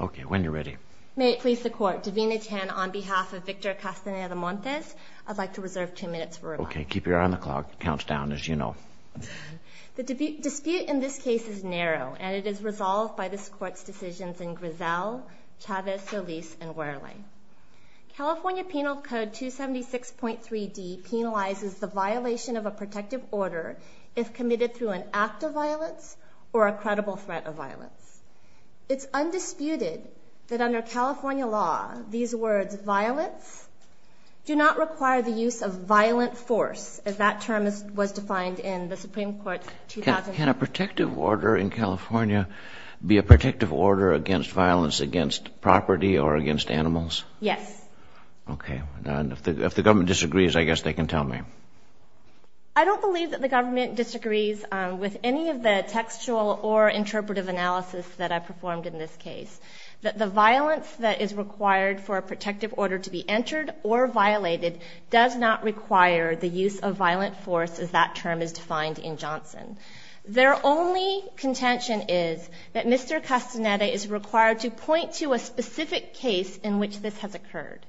Okay, when you're ready. May it please the court, Davina Tan on behalf of Victor Castaneda-Montes, I'd like to reserve two minutes for rebuttal. Okay, keep your eye on the clock. Counts down as you know. The dispute in this case is narrow and it is resolved by this court's decisions in Griselle, Chavez, Solis, and Wherley. California Penal Code 276.3d penalizes the violation of a protective order if committed through an act of violence or a credible threat of It's undisputed that under California law, these words violence do not require the use of violent force, as that term was defined in the Supreme Court. Can a protective order in California be a protective order against violence against property or against animals? Yes. Okay, if the government disagrees, I guess they can tell me. I don't believe that the government disagrees with any of the textual or performed in this case, that the violence that is required for a protective order to be entered or violated does not require the use of violent force as that term is defined in Johnson. Their only contention is that Mr. Castaneda is required to point to a specific case in which this has occurred.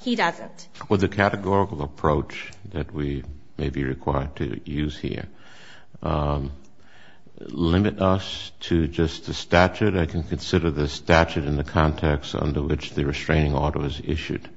He doesn't. Well, the categorical approach that we may be required to use here, um, limit us to just the statute. I can consider the statute in the context under which the restraining order was issued.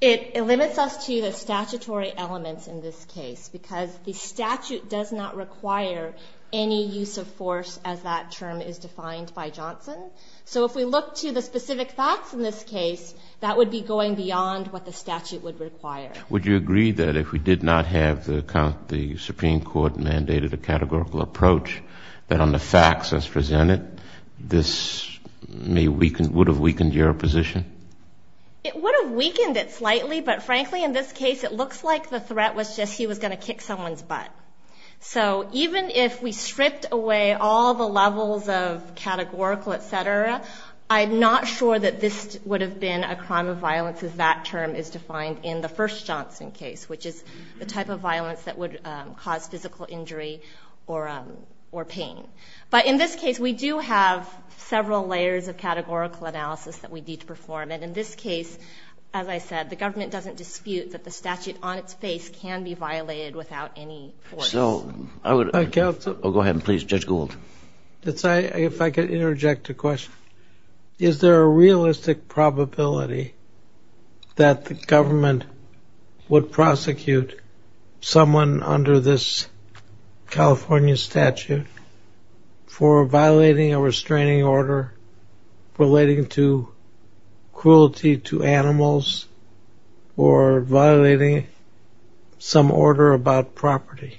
It limits us to the statutory elements in this case, because the statute does not require any use of force as that term is defined by Johnson. So if we look to the specific facts in this case, that would be going beyond what the statute would require. Would you agree that if we did not have the Supreme Court mandated a categorical approach that on the facts as presented, this may weaken, would have weakened your position? It would have weakened it slightly, but frankly, in this case, it looks like the threat was just, he was going to kick someone's butt. So even if we stripped away all the levels of categorical, et cetera, I'm not sure that this would have been a crime of violence as that term is defined in the first Johnson case, which is the type of violence that would cause physical injury or, um, or pain. But in this case, we do have several layers of categorical analysis that we need to perform. And in this case, as I said, the government doesn't dispute that the statute on its face can be violated without any force. So I would, oh, go ahead and please judge Gould. That's I, if I could interject a question, is there a realistic probability that the government would prosecute someone under this California statute for violating a restraining order relating to cruelty to animals or violating some order about property?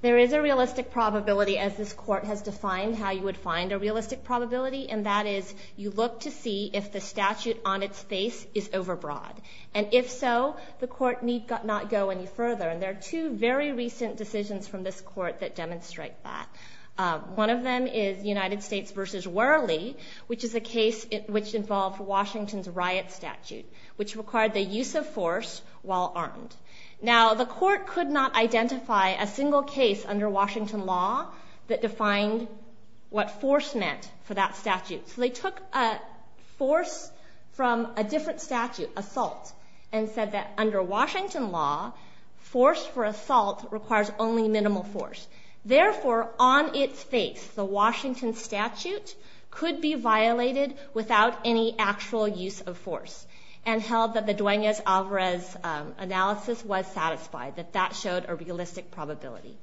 There is a realistic probability as this court has defined how you would find a realistic probability. And that is you look to see if the statute on its face is overbroad. And if so, the court need not go any further. And there are two very recent decisions from this court that demonstrate that. Uh, one of them is United States versus Worley, which is a case which involved Washington's riot statute, which required the use of force while armed. Now the court could not identify a single case under Washington law that defined what force meant for that statute. So they took a force from a different statute, assault, and said that under Washington law, force for assault requires only minimal force. Therefore, on its face, the Washington statute could be violated without any actual use of force and held that the Duenas-Alvarez analysis was satisfied, that that showed a realistic probability.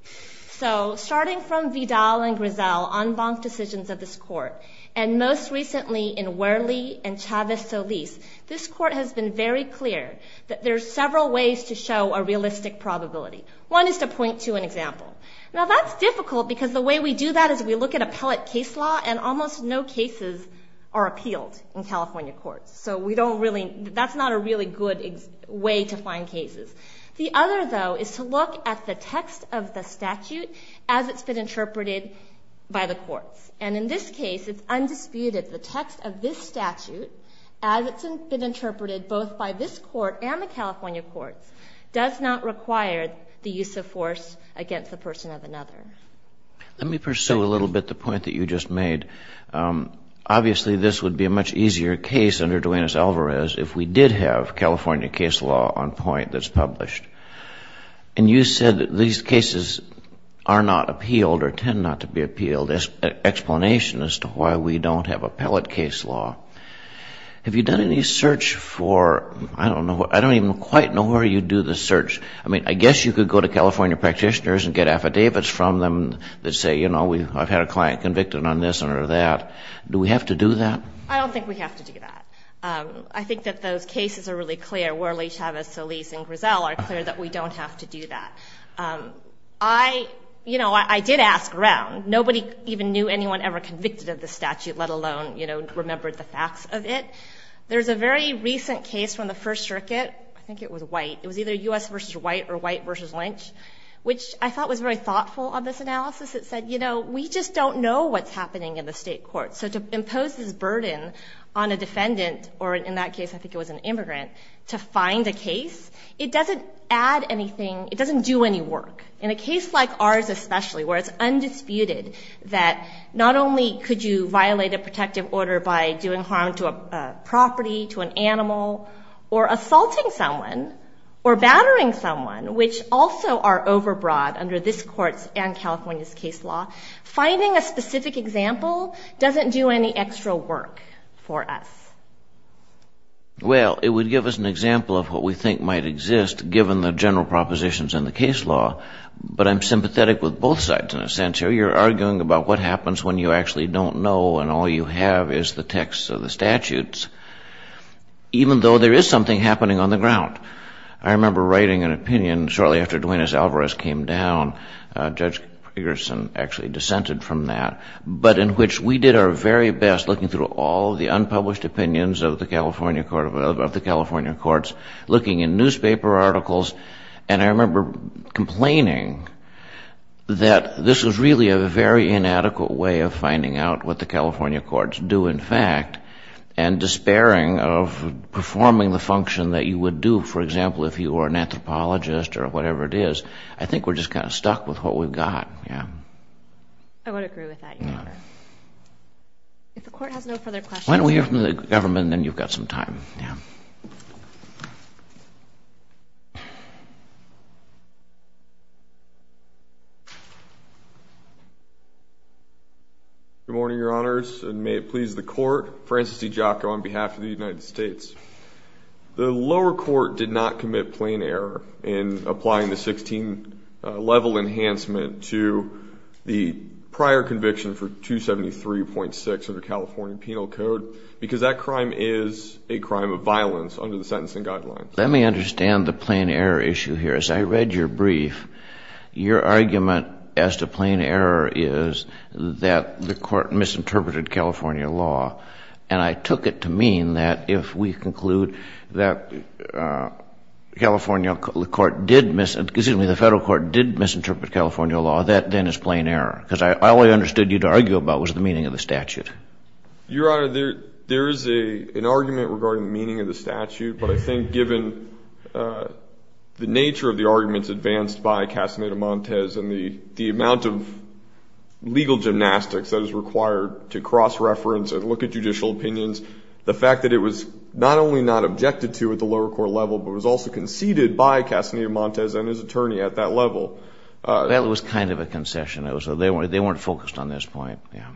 So starting from Vidal and Grisel, en banc decisions of this court, and most recently in Worley and Chavez Solis, this court has been very clear that there's several ways to show a realistic probability. One is to point to an example. Now that's difficult because the way we do that is we look at appellate case law and almost no cases are appealed in California courts. So we don't really, that's not a really good way to find cases. The other though, is to look at the text of the statute as it's been interpreted by the courts. And in this case, it's undisputed. The text of this statute, as it's been interpreted both by this court and the California courts, does not require the use of force against the person of another. Let me pursue a little bit the point that you just made. Obviously this would be a much easier case under Duenas-Alvarez if we did have California case law on point that's published. And you said that these cases are not appealed or tend not to be appealed. There's an explanation as to why we don't have appellate case law. Have you done any search for, I don't know, I don't even quite know where you do the search. I mean, I guess you could go to California practitioners and get affidavits from them that say, you know, I've had a client convicted on this or that. Do we have to do that? I don't think we have to do that. I think that those cases are really clear. Worley, Chavez, Solis, and Grisel are clear that we don't have to do that. I, you know, I did ask around. Nobody even knew anyone ever convicted of the statute, let alone, you know, remembered the facts of it. There's a very recent case from the first circuit. I think it was white. It was either US versus white or white versus Lynch, which I thought was very thoughtful on this analysis. It said, you know, we just don't know what's happening in the state court. So to impose this burden on a defendant, or in that case, I think it was an immigrant, to find a case, it doesn't add anything. It doesn't do any work. In a case like ours, especially where it's undisputed that not only could you violate a protective order by doing harm to a property, to an animal or assaulting someone or battering someone, which also are overbroad under this court's and do any extra work for us. Well, it would give us an example of what we think might exist given the general propositions in the case law. But I'm sympathetic with both sides in a sense here. You're arguing about what happens when you actually don't know and all you have is the texts of the statutes, even though there is something happening on the ground. I remember writing an opinion shortly after Duenas Alvarez came down, Judge very best looking through all the unpublished opinions of the California court, of the California courts, looking in newspaper articles. And I remember complaining that this was really a very inadequate way of finding out what the California courts do, in fact, and despairing of performing the function that you would do, for example, if you are an anthropologist or whatever it is. I think we're just kind of stuck with what we've got. Yeah. I would agree with that. If the court has no further questions. Why don't we hear from the government and then you've got some time. Yeah. Good morning, Your Honors, and may it please the court. Francis D. Giacco on behalf of the United States. The lower court did not commit plain error in applying the 16 level enhancement to the prior conviction for 273.6 of the California penal code, because that crime is a crime of violence under the sentencing guidelines. Let me understand the plain error issue here. As I read your brief, your argument as to plain error is that the court misinterpreted California law. And I took it to mean that if we conclude that California court did, excuse me, the law, that then is plain error. Because I only understood you'd argue about was the meaning of the statute. Your Honor, there is an argument regarding the meaning of the statute, but I think given the nature of the arguments advanced by Castaneda-Montes and the amount of legal gymnastics that is required to cross-reference and look at judicial opinions, the fact that it was not only not objected to at the lower court level, but was also conceded by Castaneda-Montes and his attorney at that level. That was kind of a concession. It was, they weren't focused on this point. Yeah.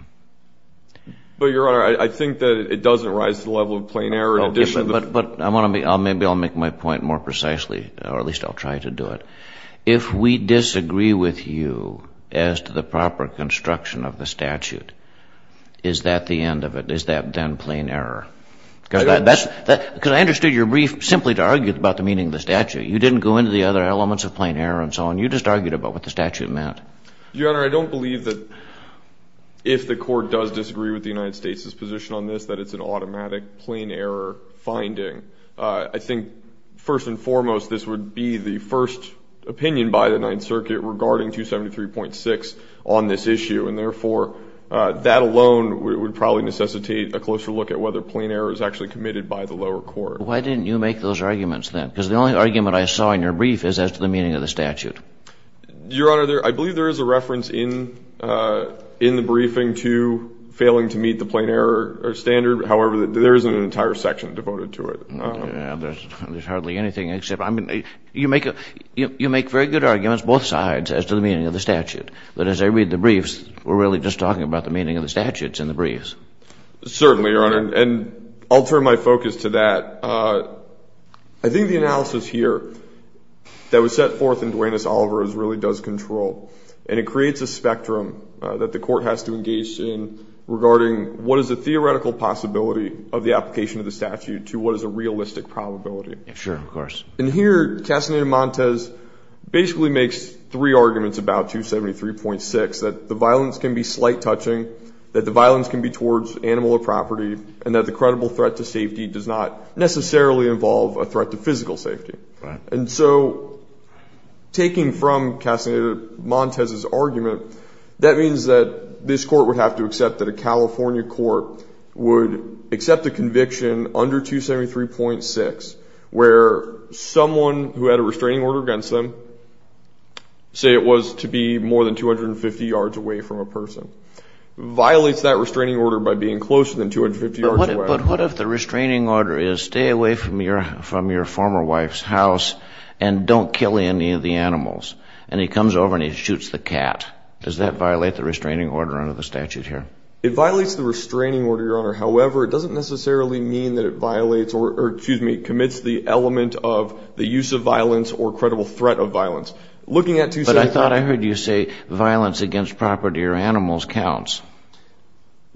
But Your Honor, I think that it doesn't rise to the level of plain error in addition to the- But I want to make, maybe I'll make my point more precisely, or at least I'll try to do it. If we disagree with you as to the proper construction of the statute, is that the end of it? Is that then plain error? Because I understood your brief simply to argue about the meaning of the statute. You didn't go into the other elements of plain error and so on. You just argued about what the statute meant. Your Honor, I don't believe that if the court does disagree with the United States' position on this, that it's an automatic plain error finding. I think first and foremost, this would be the first opinion by the Ninth Circuit regarding 273.6 on this issue. And therefore, that alone would probably necessitate a closer look at whether plain error is actually committed by the lower court. Why didn't you make those arguments then? Because the only argument I saw in your brief is as to the meaning of the statute. Your Honor, I believe there is a reference in the briefing to failing to meet the plain error standard. However, there isn't an entire section devoted to it. Yeah, there's hardly anything except, I mean, you make very good arguments both sides as to the meaning of the statute. But as I read the briefs, we're really just talking about the meaning of the statutes in the briefs. Certainly, Your Honor. And I'll turn my focus to that. I think the analysis here that was set forth in Duane S. Oliver's really does control, and it creates a spectrum that the court has to engage in regarding what is the theoretical possibility of the application of the statute to what is a realistic probability. Sure, of course. And here, Castaneda-Montes basically makes three arguments about 273.6, that the violence can be slight touching, that the violence can be towards animal or property, and that the credible threat to safety does not necessarily involve a threat to physical safety. And so, taking from Castaneda-Montes' argument, that means that this court would have to accept that a California court would accept a conviction under 273.6 where someone who had a restraining order against them, say it was to be more than 250 yards away from a person, violates that restraining order by being closer than 250 yards away. But what if the restraining order is, stay away from your former wife's house and don't kill any of the animals? And he comes over and he shoots the cat. Does that violate the restraining order under the statute here? It violates the restraining order, Your Honor. However, it doesn't necessarily mean that it violates or, excuse me, commits the element of the use of violence or credible threat of violence. Looking at 273.6- But I thought I heard you say violence against property or animals counts.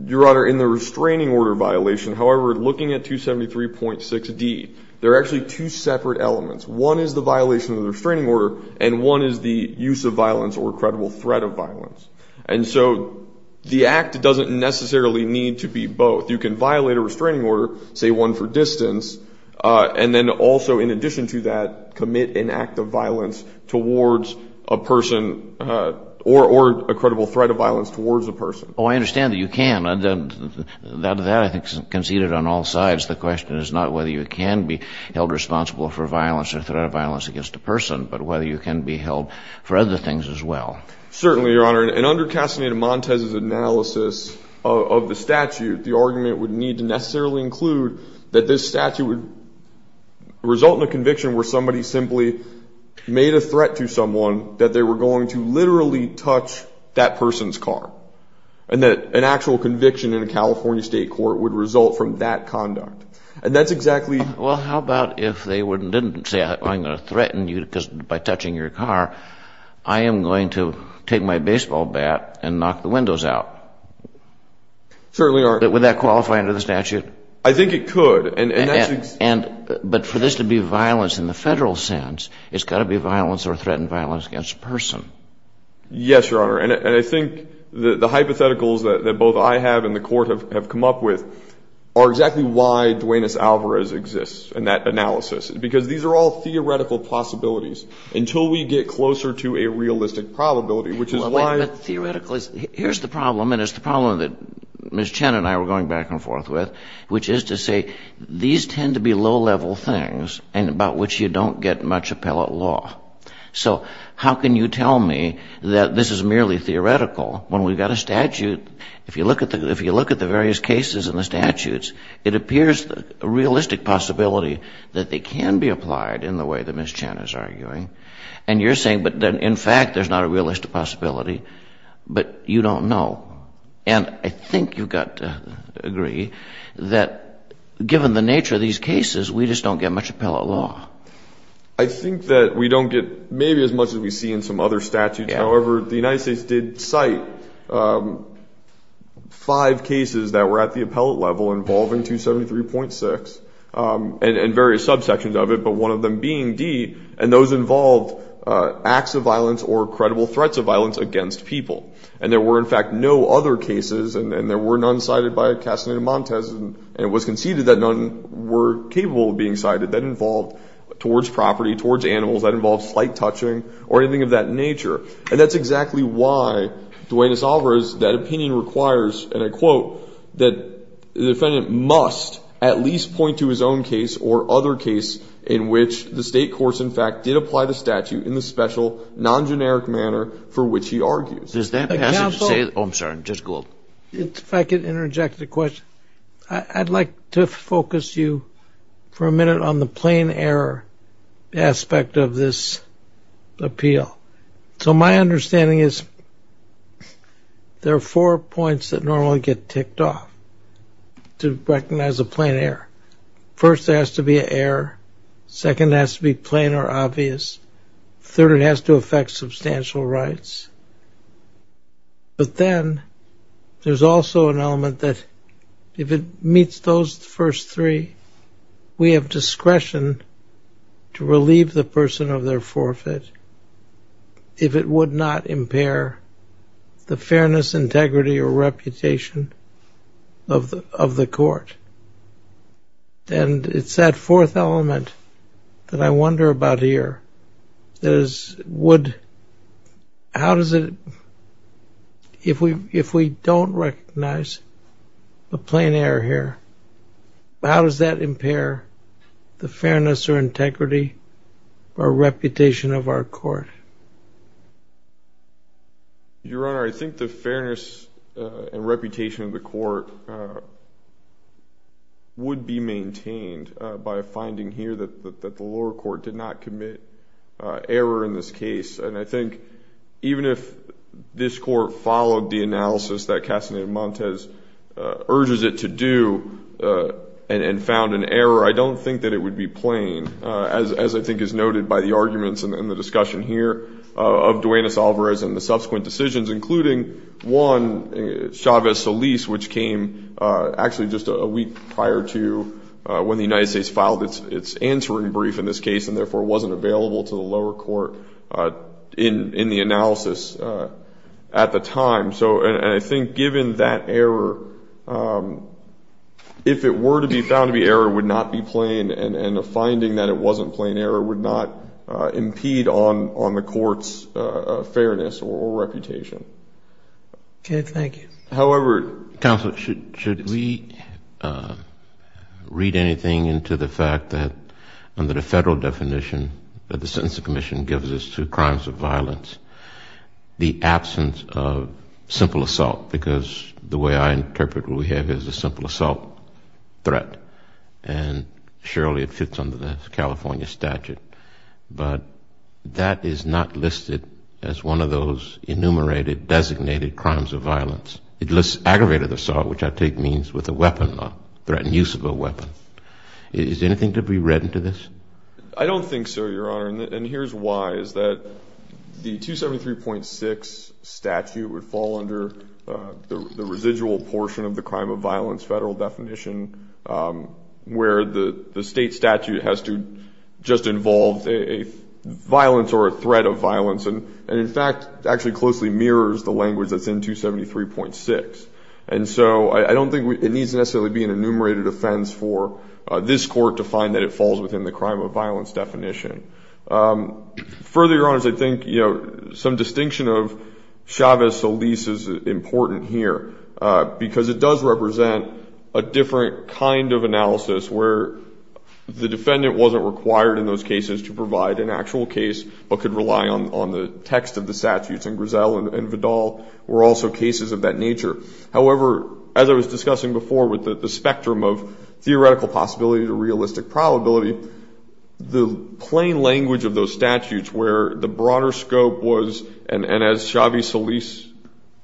Your Honor, in the restraining order violation, however, looking at 273.6-D, there are actually two separate elements. One is the violation of the restraining order and one is the use of violence or credible threat of violence. And so, the act doesn't necessarily need to be both. You can violate a restraining order, say one for distance, and then also in addition to that, commit an act of violence towards a person or a credible threat of violence towards a person. Oh, I understand that you can. That, I think, is conceded on all sides. The question is not whether you can be held responsible for violence or threat of violence against a person, but whether you can be held for other things as well. Certainly, Your Honor. And under Castaneda-Montez's analysis of the statute, the argument would need to necessarily include that this statute would result in a conviction where somebody simply made a threat to someone that they were going to literally touch that person's car, and that an actual conviction in a California state court would result from that conduct. And that's exactly... Well, how about if they didn't say, I'm going to threaten you by touching your car, I am going to take my baseball bat and knock the windows out. Certainly, Your Honor. Would that qualify under the statute? I think it could. But for this to be violence in the federal sense, it's got to be violence or threatened violence against a person. Yes, Your Honor. And I think the hypotheticals that both I have and the Court have come up with are exactly why Duenas-Alvarez exists in that analysis, because these are all theoretical possibilities until we get closer to a realistic probability, which is why... But theoretically, here's the problem, and it's the problem that Ms. Chen and I were going back and forth with, which is to say these tend to be low-level things and about which you don't get much appellate law. So how can you tell me that this is merely theoretical when we've got a statute? If you look at the various cases in the statutes, it appears a realistic possibility that they can be applied in the way that Ms. Chen is arguing. And you're saying, but in fact, there's not a realistic possibility, but you don't know. And I think you've got to agree that given the nature of these cases, we just don't get much appellate law. I think that we don't get maybe as much as we see in some other statutes. However, the United States did cite five cases that were at the appellate level involving 273.6 and various subsections of it, but one of them being D, and those involved acts of violence or credible threats of violence against people. And there were, in fact, no other cases, and there were none cited by Castaneda-Montes, and it was conceded that none were capable of being cited that involved towards property, towards animals, that involved slight touching or anything of that nature. And that's exactly why Duane DeSalvo's opinion requires, and I quote, that the defendant must at least point to his own case or other case in which the state courts, in fact, did apply the statute in the special non-generic manner for which he argues. Does that passage say, oh, I'm sorry, just go up. If I could interject a question, I'd like to focus you for a minute on the plain error aspect of this appeal. So my understanding is there are four points that normally get ticked off to recognize a plain error. First, there has to be an error. Second, it has to be plain or obvious. Third, it has to affect substantial rights. But then there's also an element that if it meets those first three, we have discretion to relieve the person of their forfeit if it would not impair the fairness, integrity, or reputation of the court. And it's that fourth element that I wonder about here. If we don't recognize a plain error here, how does that impair the fairness or integrity or reputation of our court? Your Honor, I think the fairness and reputation of the court would be error in this case. And I think even if this court followed the analysis that Castaneda-Montes urges it to do and found an error, I don't think that it would be plain, as I think is noted by the arguments in the discussion here of Duenas-Alvarez and the subsequent decisions, including one, Chavez-Solis, which came actually just a week prior to when the United States filed its answering brief in this case and therefore wasn't available to the lower court in the analysis at the time. So I think given that error, if it were to be found to be error, it would not be plain, and a finding that it wasn't plain error would not impede on the court's fairness or reputation. Okay, thank you. However, counsel, should we read anything into the fact that under the federal definition that the Sentencing Commission gives us to crimes of violence, the absence of simple assault, because the way I interpret what we have is a simple assault threat, and surely it fits under the California statute, but that is not listed as one of those enumerated, designated crimes of violence. It lists aggravated assault, which I take means with a weapon, a threatened use of a weapon. Is there anything to be read into this? I don't think so, Your Honor, and here's why, is that the 273.6 statute would fall under the residual portion of the crime of violence federal definition where the state statute has to just involve a violence or a threat of violence, and in fact, actually closely mirrors the language that's in 273.6. And so I don't think it needs to necessarily be an enumerated offense for this court to find that it falls within the crime of violence definition. Further, Your Honors, I think some distinction of Chavez-Solis is important here, because it does represent a different kind of analysis where the defendant wasn't required in those cases to provide an actual case, but could rely on the text of the statutes, and Grisel and Vidal were also cases of that nature. However, as I was discussing before with the spectrum of theoretical possibility to realistic probability, the plain language of those statutes where the broader scope was, and as Chavez-Solis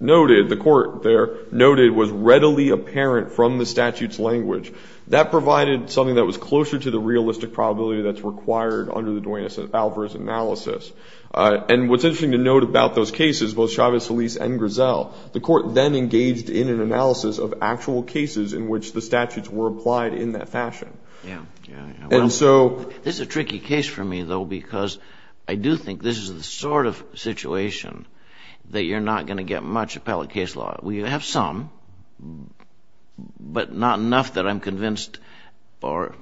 noted, the court there noted, was readily apparent from the statute's language. That provided something that was closer to the realistic probability that's required under the Duenas and Alvarez analysis. And what's interesting to note about those cases, both Chavez-Solis and Grisel, the court then engaged in an analysis of actual cases in which the defendant did not fall within the crime of violence definition. And this was done in a very solid fashion. And so... This is a tricky case for me though, because I do think this is the sort of situation that you're not going to get much appellate case law. We have some, but not enough that I'm convinced, or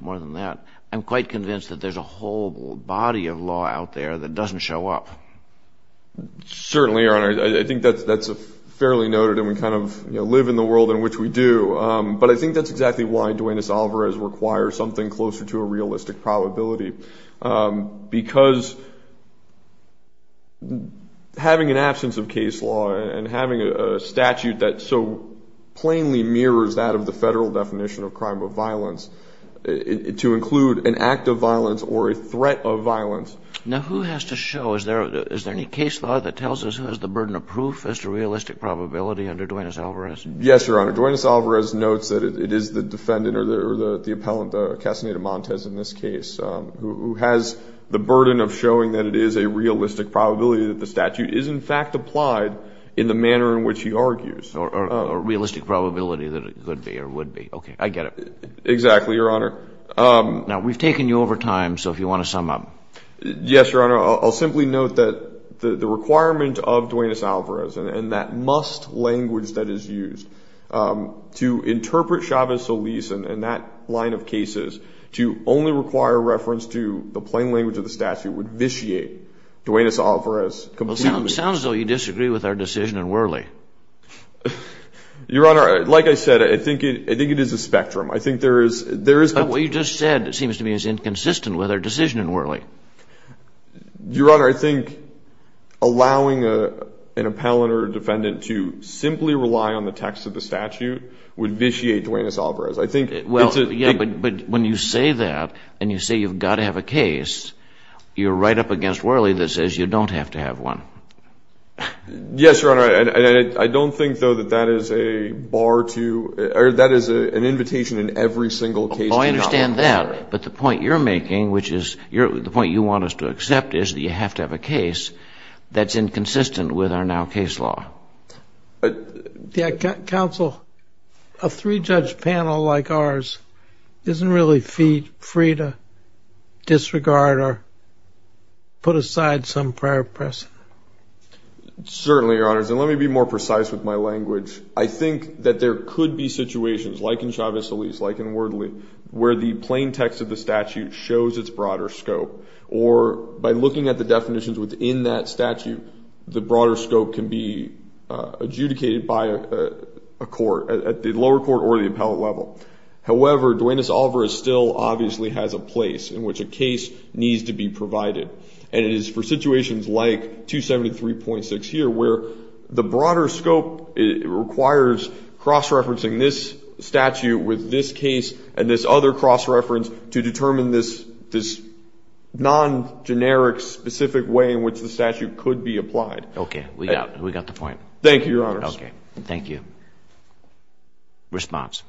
more than that. I'm quite convinced that there's a whole body of law out there that doesn't show up. Certainly, Your Honor. I think that's fairly noted and we kind of live in the world in which we do. But I think that's exactly why Dwayne S. Oliver has required something closer to a realistic probability. Because having an absence of case law and having a statute that so plainly mirrors that of the federal definition of crime of violence, to include an act of violence or a threat of violence. Now, who has to show? Is there any case law that tells us who has the burden of proof as to realistic probability under Dwayne S. Oliver? Yes, Your Honor. Dwayne S. Oliver notes that it is the defendant or the appellant, Castaneda-Montez in this case, who has the burden of showing that it is a realistic probability that the statute is in fact applied in the manner in which he argues. Or a realistic probability that it could be or would be. Okay. I get it. Exactly, Your Honor. Now, we've taken you over time. So if you want to sum up. Yes, Your Honor. I'll simply note that the requirement of Dwayne S. Oliver and that must language that is used to interpret Chavez Solis and that line of cases to only require reference to the plain language of the statute would vitiate Dwayne S. Oliver as completely. It sounds as though you disagree with our decision in Worley. Your Honor, like I said, I think it is a spectrum. I think there is. There is. But what you just said, it seems to me is inconsistent with our decision in Worley. Your Honor, I think allowing an appellant or defendant to simply rely on the text of the statute would vitiate Dwayne S. Oliver as I think. Well, yeah, but when you say that and you say you've got to have a case, you're right up against Worley that says you don't have to have one. Yes, Your Honor. And I don't think, though, that that is a bar to or that is an invitation in every single case. Oh, I understand that. But the point you're making, which is the point you want us to accept, is that you have to have a case that's inconsistent with our now case law. Counsel, a three-judge panel like ours isn't really free to disregard or put aside some prior precedent. Certainly, Your Honors. And let me be more precise with my language. I think that there could be situations, like in Chavez-Eliz, like in Worley, where the plain text of the statute shows its broader scope, or by looking at the definitions within that statute, the broader scope can be adjudicated by a court, at the lower court or the appellate level. However, Dwayne S. Oliver still obviously has a place in which a case needs to be provided. And it is for situations like 273.6 here, where the broader scope requires cross-referencing this statute with this case and this other cross-reference to determine this non-generic, specific way in which the statute could be applied. Okay. We got the point. Thank you, Your Honors. Okay. Thank you. Response?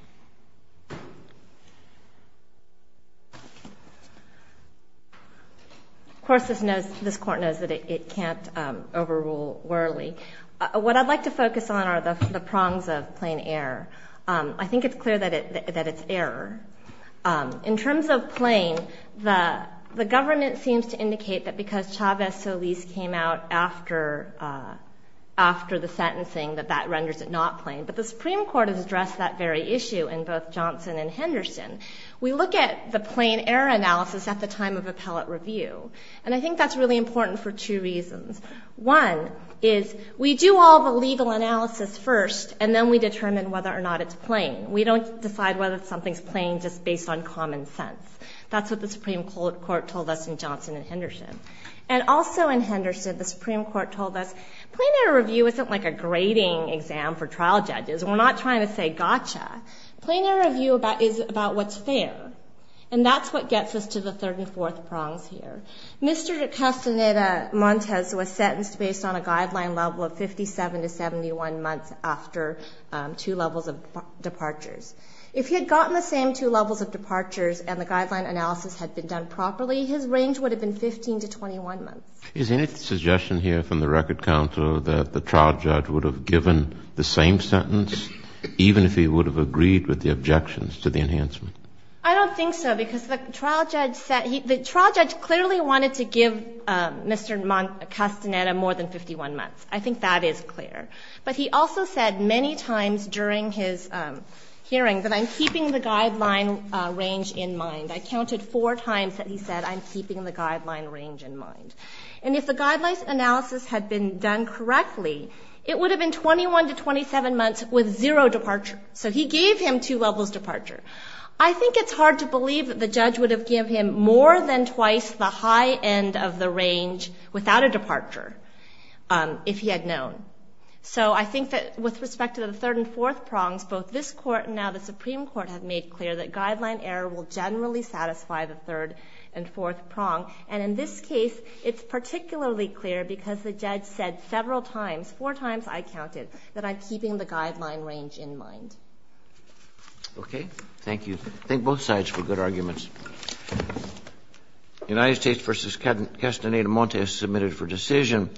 Of course, this court knows that it can't overrule Worley. What I'd like to focus on are the prongs of plain error. I think it's clear that it's error. In terms of plain, the government seems to indicate that because Chavez-Eliz came out after the sentencing, that that renders it not plain. But the Supreme Court has addressed that very issue in both Johnson and Henderson. We look at the plain error analysis at the time of appellate review. And I think that's really important for two reasons. One is we do all the legal analysis first, and then we determine whether or not it's plain. We don't decide whether something's plain just based on common sense. That's what the Supreme Court told us in Johnson and Henderson. And also in Henderson, the Supreme Court told us plain error review isn't like a grading exam for trial judges. We're not trying to say gotcha. Plain error review is about what's fair. And that's what gets us to the third and fourth prongs here. Mr. Castaneda-Montes was sentenced based on a guideline level of 57 to 71 months after two levels of departures. If he had gotten the same two levels of departures and the guideline analysis had been done properly, his range would have been 15 to 21 months. Is there any suggestion here from the record counsel that the trial judge would have given the same sentence even if he would have agreed with the objections to the enhancement? I don't think so. Because the trial judge clearly wanted to give Mr. Castaneda more than 51 months. I think that is clear. But he also said many times during his hearing that I'm keeping the guideline range in mind. I counted four times that he said I'm keeping the guideline range in mind. And if the guideline analysis had been done correctly, it would have been 21 to 27 months with zero departure. So he gave him two levels departure. I think it's hard to believe that the judge would have given him more than twice the high end of the range without a departure if he had known. So I think that with respect to the third and fourth prongs, both this court and now the Supreme Court have made clear that guideline error will generally satisfy the third and fourth prong. And in this case, it's particularly clear because the judge said several times, four times I counted, that I'm keeping the guideline range in mind. Okay. Thank you. Thank both sides for good arguments. United States v. Castaneda-Montes submitted for decision.